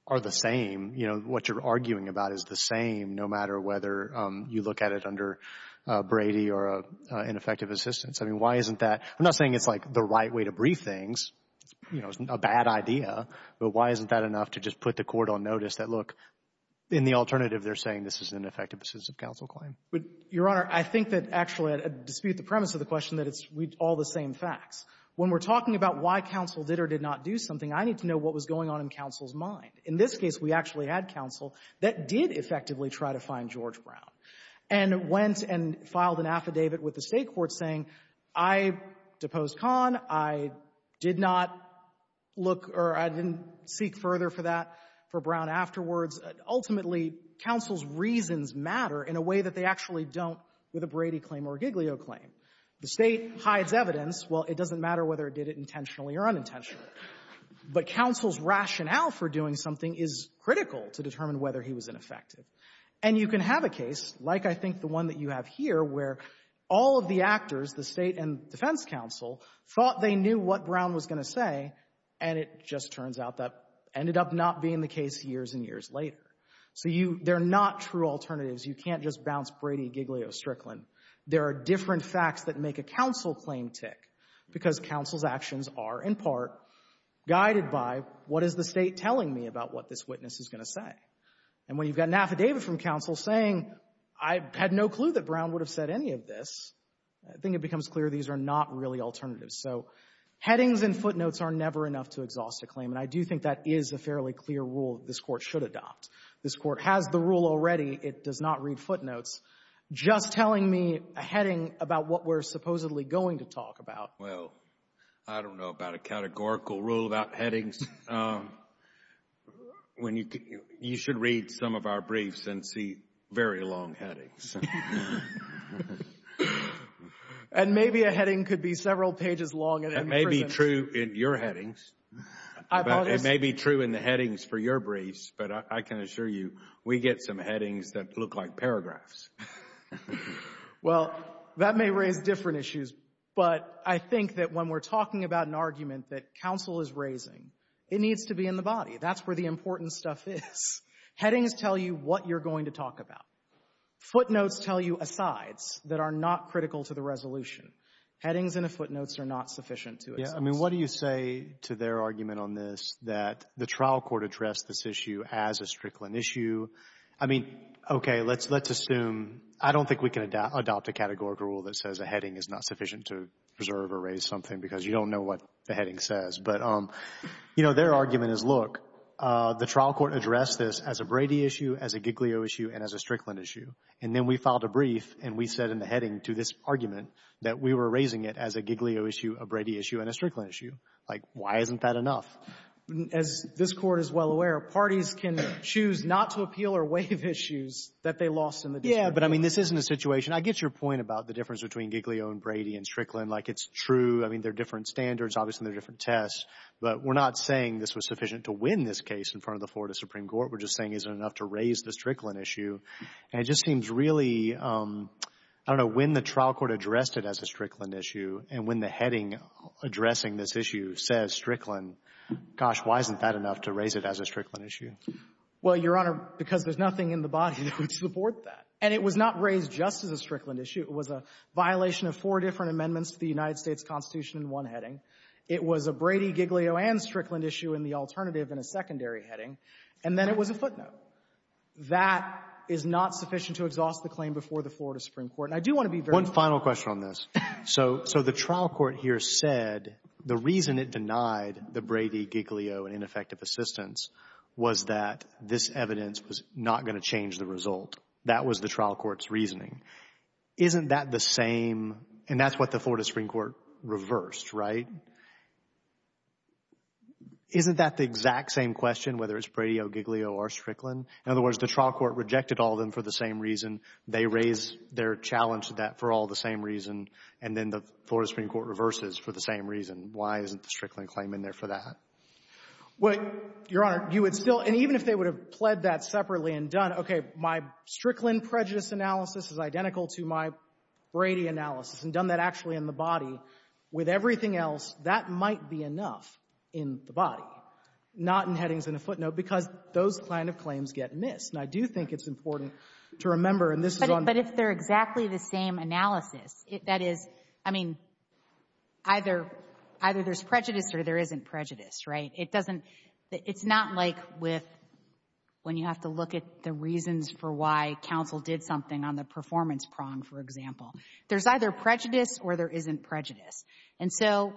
are the same. You know, what you're arguing about is the same no matter whether you look at it under Brady or an effective assistance. I mean, why isn't that? I'm not saying it's, like, the right way to brief things, you know, a bad idea, but why isn't that enough to just put the court on notice that, look, in the alternative they're saying this is an effective assistance of counsel claim? But, Your Honor, I think that actually I dispute the premise of the question that it's all the same facts. When we're talking about why counsel did or did not do something, I need to know what was going on in counsel's mind. In this case, we actually had counsel that did effectively try to find George Brown. And went and filed an affidavit with the State court saying, I deposed Kahn, I did not look or I didn't seek further for that for Brown afterwards. Ultimately, counsel's reasons matter in a way that they actually don't with a Brady claim or a Giglio claim. The State hides evidence. Well, it doesn't matter whether it did it intentionally or unintentionally. But counsel's rationale for doing something is critical to determine whether he was ineffective. And you can have a case, like I think the one that you have here, where all of the actors, the State and defense counsel, thought they knew what Brown was going to say, and it just turns out that ended up not being the case years and years later. So you — they're not true alternatives. You can't just bounce Brady, Giglio, Strickland. There are different facts that make a counsel claim tick, because counsel's actions are, in part, guided by, what is the State telling me about what this witness is going to say? And when you've got an affidavit from counsel saying, I had no clue that Brown would have said any of this, I think it becomes clear these are not really alternatives. So headings and footnotes are never enough to exhaust a claim. And I do think that is a fairly clear rule this Court should adopt. This Court has the rule already. It does not read footnotes. Just telling me a heading about what we're supposedly going to talk about. Well, I don't know about a categorical rule about headings. When you — you should read some of our briefs and see very long headings. And maybe a heading could be several pages long. That may be true in your headings. It may be true in the headings for your briefs, but I can assure you, we get some headings that look like paragraphs. Well, that may raise different issues, but I think that when we're talking about an argument that counsel is raising, it needs to be in the body. That's where the important stuff is. Headings tell you what you're going to talk about. Footnotes tell you asides that are not critical to the resolution. Headings and footnotes are not sufficient to — Yeah. I mean, what do you say to their argument on this, that the trial court addressed this issue as a Strickland issue? I mean, okay, let's assume — I don't think we can adopt a categorical rule that says a heading is not sufficient to preserve or raise something because you don't know what the heading says. But, you know, their argument is, look, the trial court addressed this as a Brady issue, as a Giglio issue, and as a Strickland issue. And then we filed a brief and we said in the heading to this argument that we were raising it as a Giglio issue, a Brady issue, and a Strickland issue. Like, why isn't that enough? As this Court is well aware, parties can choose not to appeal or waive issues that they lost in the dispute. Yeah, but I mean, this isn't a situation — I get your point about the difference between Giglio and Brady and Strickland. Like, it's true. I mean, they're different standards. Obviously, they're different tests. But we're not saying this was sufficient to win this case in front of the Florida Supreme Court. We're just saying is it enough to raise the Strickland issue? And it just seems really — I don't know, when the trial court addressed it as a Strickland issue and when the heading addressing this issue says Strickland, gosh, why isn't that enough to raise it as a Strickland issue? Well, Your Honor, because there's nothing in the body that would support that. And it was not raised just as a Strickland issue. It was a violation of four different amendments to the United States Constitution in one heading. It was a Brady, Giglio, and Strickland issue in the alternative in a secondary heading. And then it was a footnote. That is not sufficient to exhaust the claim before the Florida Supreme Court. And I do want to be very — One final question on this. So the trial court here said the reason it denied the Brady, Giglio, and ineffective assistance was that this evidence was not going to change the result. That was the trial court's reasoning. Isn't that the same — and that's what the Florida Supreme Court reversed, right? Isn't that the exact same question, whether it's Brady, Giglio, or Strickland? In other words, the trial court rejected all of them for the same reason. They raised their challenge to that for all the same reason. And then the Florida Supreme Court reverses for the same reason. Why isn't the Strickland claim in there for that? Well, Your Honor, you would still — and even if they would have pled that separately and done, okay, my Strickland prejudice analysis is identical to my Brady analysis and done that actually in the body, with everything else, that might be enough in the body, not in headings and a footnote, because those kind of claims get missed. And I do think it's important to remember, and this is on — But if they're exactly the same analysis, that is — I mean, either there's prejudice or there isn't prejudice, right? It doesn't — it's not like with — when you have to look at the reasons for why counsel did something on the performance prong, for example. There's either prejudice or there isn't prejudice. And so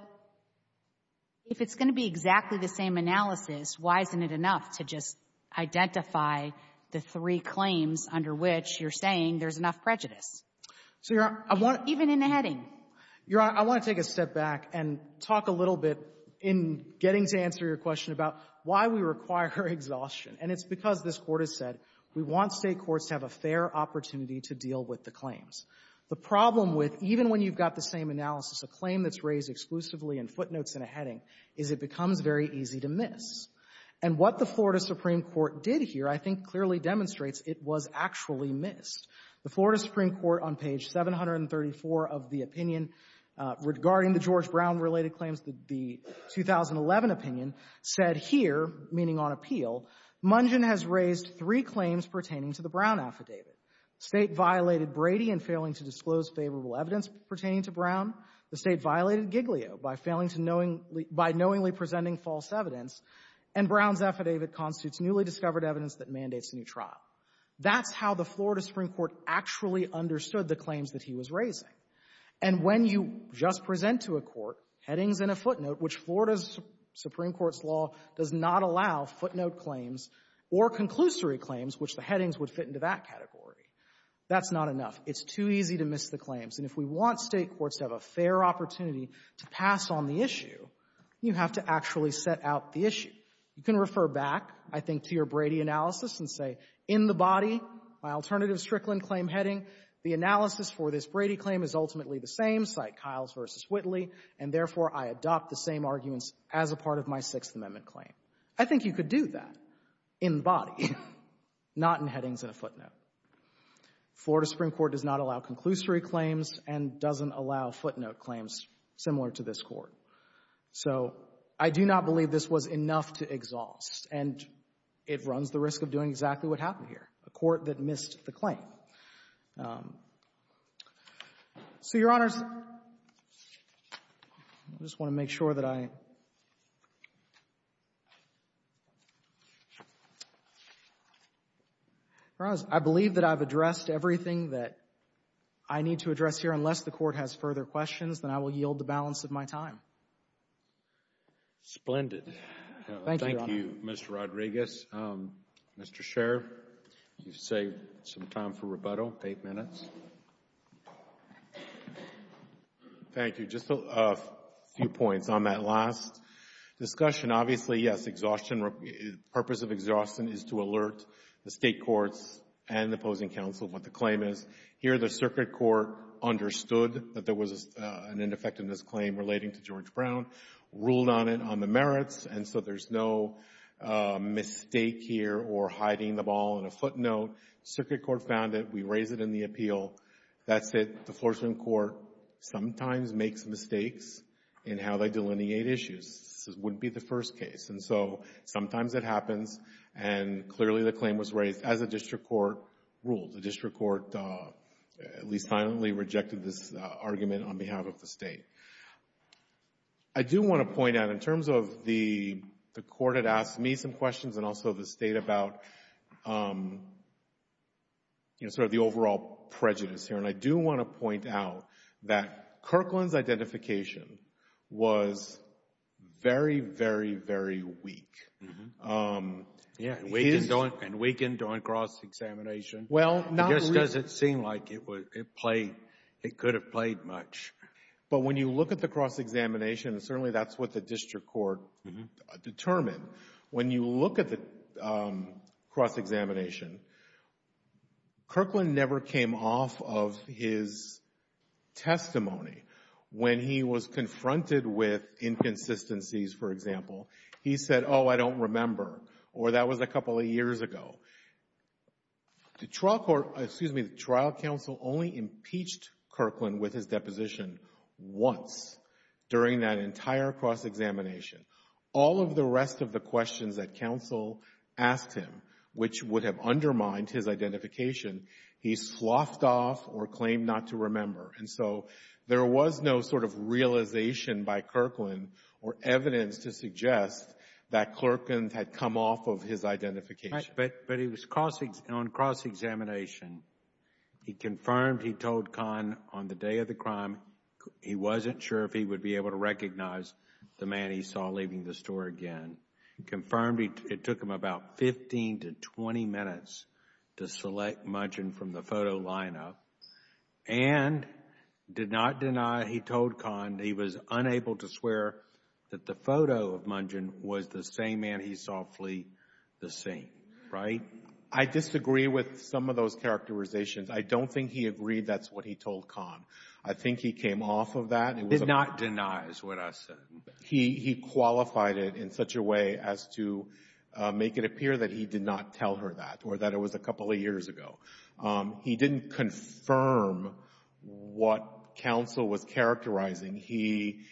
if it's going to be exactly the same analysis, why isn't it enough to just identify the three claims under which you're saying there's enough prejudice? So, Your Honor, I want — Even in a heading. Your Honor, I want to take a step back and talk a little bit in getting to answer your question about why we require exhaustion. And it's because this Court has said we want State courts to have a fair opportunity to deal with the claims. The problem with, even when you've got the same analysis, a claim that's raised exclusively in footnotes and a heading is it becomes very easy to miss. And what the Florida Supreme Court did here, I think, clearly demonstrates it was actually missed. The Florida Supreme Court, on page 734 of the opinion regarding the George Brown-related claims, the 2011 opinion, said here, meaning on appeal, Mungin has raised three claims pertaining to the Brown affidavit. State violated Brady in failing to disclose favorable evidence pertaining to Brown. The State violated Giglio by failing to knowingly — by knowingly presenting false evidence. And Brown's affidavit constitutes newly discovered evidence that mandates a new trial. That's how the Florida Supreme Court actually understood the claims that he was raising. And when you just present to a court headings in a footnote, which Florida's Supreme Court's law does not allow footnote claims or conclusory claims, which the headings would fit into that category, that's not enough. It's too easy to miss the claims. And if we want State courts to have a fair opportunity to pass on the issue, you have to actually set out the issue. You can refer back, I think, to your Brady analysis and say, in the body, my alternative Strickland claim heading, the analysis for this Brady claim is ultimately the same, cite Kyles v. Whitley, and, therefore, I adopt the same arguments as a part of my Sixth Amendment claim. I think you could do that in the body, not in headings in a footnote. Florida Supreme Court does not allow conclusory claims and doesn't allow footnote claims similar to this Court. So I do not believe this was enough to exhaust. And it runs the risk of doing exactly what happened here, a court that missed the claim. So, Your Honors, I just want to make sure that I — Your Honors, I believe that I've addressed everything that I need to address here. Unless the Court has further questions, then I will yield the balance of my time. Roberts. Splendid. Thank you, Your Honor. Thank you, Mr. Rodriguez. Mr. Scherr, you've saved some time for rebuttal, eight minutes. Thank you. Just a few points on that last discussion. Obviously, yes, exhaustion — the purpose of exhaustion is to alert the State courts and the opposing counsel of what the claim is. Here, the Circuit Court understood that there was an ineffectiveness claim relating to George Brown, ruled on it on the merits, and so there's no mistake here or hiding the ball in a footnote. Circuit Court found it. We raise it in the appeal. That's it. The Floorsman Court sometimes makes mistakes in how they delineate issues. This wouldn't be the first case. And so sometimes it happens. And clearly, the claim was raised as a district court ruled. The district court at least silently rejected this argument on behalf of the State. I do want to point out, in terms of the court had asked me some questions and also the State about, you know, sort of the overall prejudice here, and I do want to point out that Kirkland's identification was very, very, very weak. Yeah, and weakened on cross-examination. Well, not — It just doesn't seem like it played — it could have played much. But when you look at the cross-examination, certainly that's what the district court determined. When you look at the cross-examination, Kirkland never came off of his testimony. When he was confronted with inconsistencies, for example, he said, oh, I don't remember, or that was a couple of years ago. So the trial court — excuse me, the trial counsel only impeached Kirkland with his deposition once during that entire cross-examination. All of the rest of the questions that counsel asked him, which would have undermined his identification, he sloughed off or claimed not to remember. And so there was no sort of realization by Kirkland or evidence to suggest that Kirkland had come off of his identification. But on cross-examination, he confirmed he told Kahn on the day of the crime he wasn't sure if he would be able to recognize the man he saw leaving the store again, confirmed it took him about 15 to 20 minutes to select Mungin from the photo lineup, and did not deny he told Kahn he was unable to swear that the photo of Mungin was the same man he saw leaving the store, which is roughly the same, right? I disagree with some of those characterizations. I don't think he agreed that's what he told Kahn. I think he came off of that. Did not deny is what I said. He qualified it in such a way as to make it appear that he did not tell her that or that it was a couple of years ago. He didn't confirm what counsel was characterizing. He,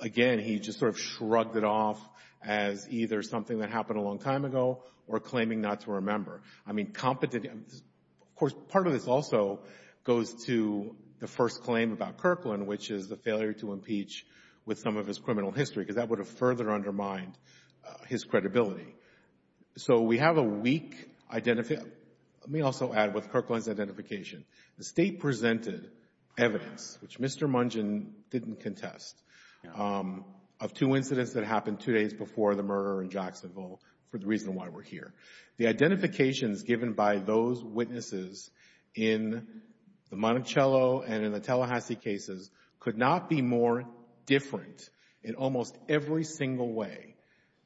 again, he just sort of shrugged it off as either something that happened a long time ago or claiming not to remember. I mean, of course, part of this also goes to the first claim about Kirkland, which is the failure to impeach with some of his criminal history, because that would have further undermined his credibility. So we have a weak identification. Let me also add with Kirkland's identification. The State presented evidence, which Mr. Mungin didn't contest, of two incidents that happened two days before the murder in Jacksonville for the reason why we're here. The identifications given by those witnesses in the Monticello and in the Tallahassee cases could not be more different in almost every single way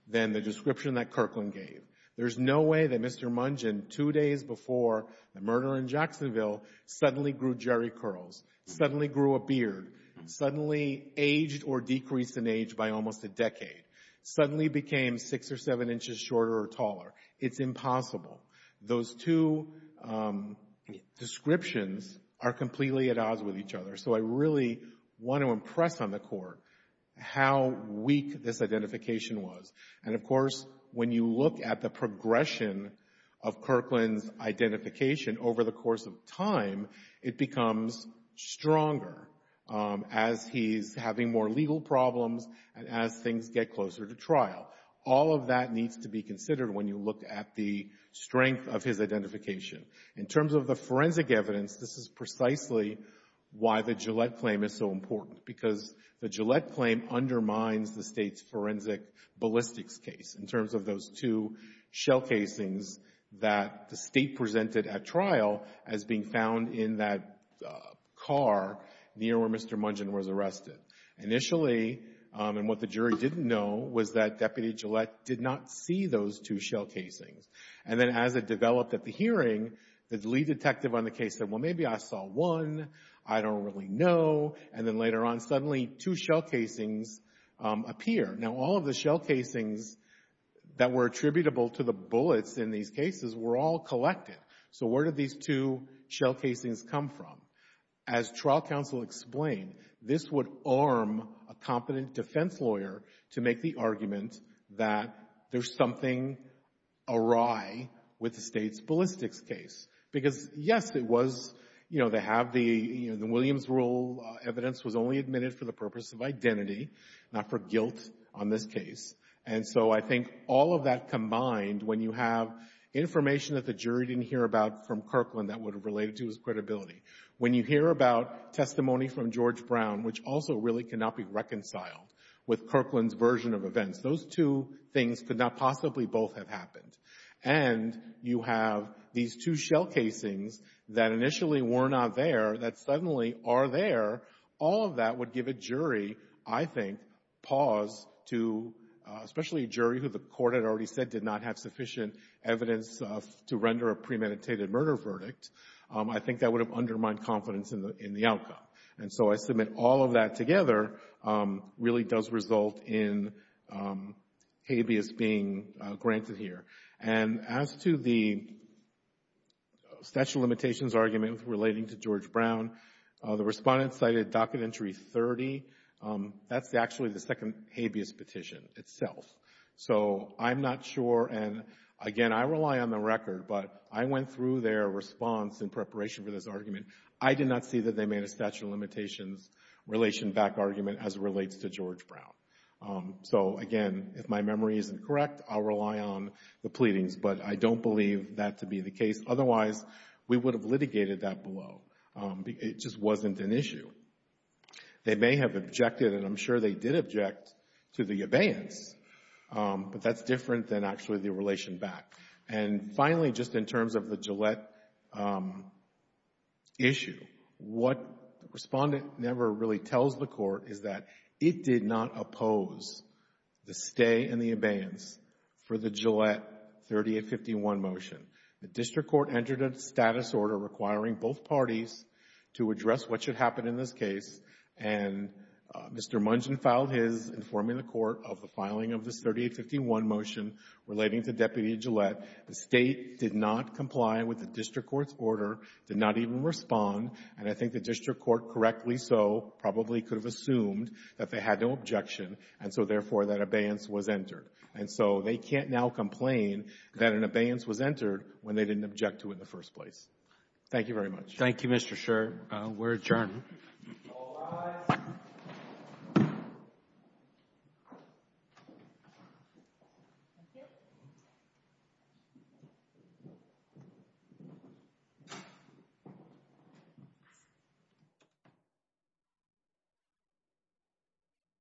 than the description that Kirkland gave. There's no way that Mr. Mungin, two days before the murder in Jacksonville, suddenly grew jerry curls, suddenly grew a beard, suddenly aged or decreased in age by almost a decade, suddenly became six or seven inches shorter or taller. It's impossible. Those two descriptions are completely at odds with each other. So I really want to impress on the Court how weak this identification was. And, of course, when you look at the progression of Kirkland's identification over the course of time, it becomes stronger as he's having more legal problems and as things get closer to trial. All of that needs to be considered when you look at the strength of his identification. In terms of the forensic evidence, this is precisely why the Gillette claim is so important, because the Gillette claim undermines the State's forensic ballistics case in terms of those two shell casings that the State presented at trial as being found in that car near where Mr. Mungin was arrested. Initially, and what the jury didn't know, was that Deputy Gillette did not see those two shell casings. And then as it developed at the hearing, the lead detective on the case said, well, maybe I saw one. I don't really know. And then later on, suddenly two shell casings appear. Now, all of the shell casings that were attributable to the bullets in these cases were all collected. So where did these two shell casings come from? As trial counsel explained, this would arm a competent defense lawyer to make the argument that there's something awry with the State's ballistics case. Because, yes, it was, you know, they have the, you know, the Williams rule evidence was only admitted for the purpose of identity, not for guilt on this case. And so I think all of that combined, when you have information that the jury didn't hear about from Kirkland that would have related to his credibility, when you hear about testimony from George Brown, which also really cannot be reconciled with Kirkland's version of events, those two things could not possibly both have happened. And you have these two shell casings that initially were not there that suddenly are there. All of that would give a jury, I think, pause to, especially a jury who the Court had already said did not have sufficient evidence to render a premeditated murder verdict, I think that would have undermined confidence in the outcome. And so I submit all of that together really does result in habeas being granted here. And as to the statute of limitations argument relating to George Brown, the Respondent cited Docket Entry 30. That's actually the second habeas petition itself. So I'm not sure, and, again, I rely on the record, but I went through their response in preparation for this argument. I did not see that they made a statute of limitations relation back argument as it relates to George Brown. So, again, if my memory isn't correct, I'll rely on the pleadings, but I don't believe that to be the case. Otherwise, we would have litigated that below. It just wasn't an issue. They may have objected, and I'm sure they did object to the abeyance, but that's different than actually the relation back. And finally, just in terms of the Gillette issue, what the Respondent never really tells the Court is that it did not oppose the stay and the abeyance for the Gillette 3851 motion. The District Court entered a status order requiring both parties to address what should happen in this case, and Mr. Mungeon filed his, informing the Court of the filing of this 3851 motion relating to Deputy Gillette. The State did not comply with the District Court's order, did not even respond, and I think the District Court, correctly so, probably could have assumed that they had no objection, and so, therefore, that abeyance was entered. And so, they can't now complain that an abeyance was entered when they didn't object to it in the first place. Thank you very much. Thank you, Mr. Sherr. We're adjourned.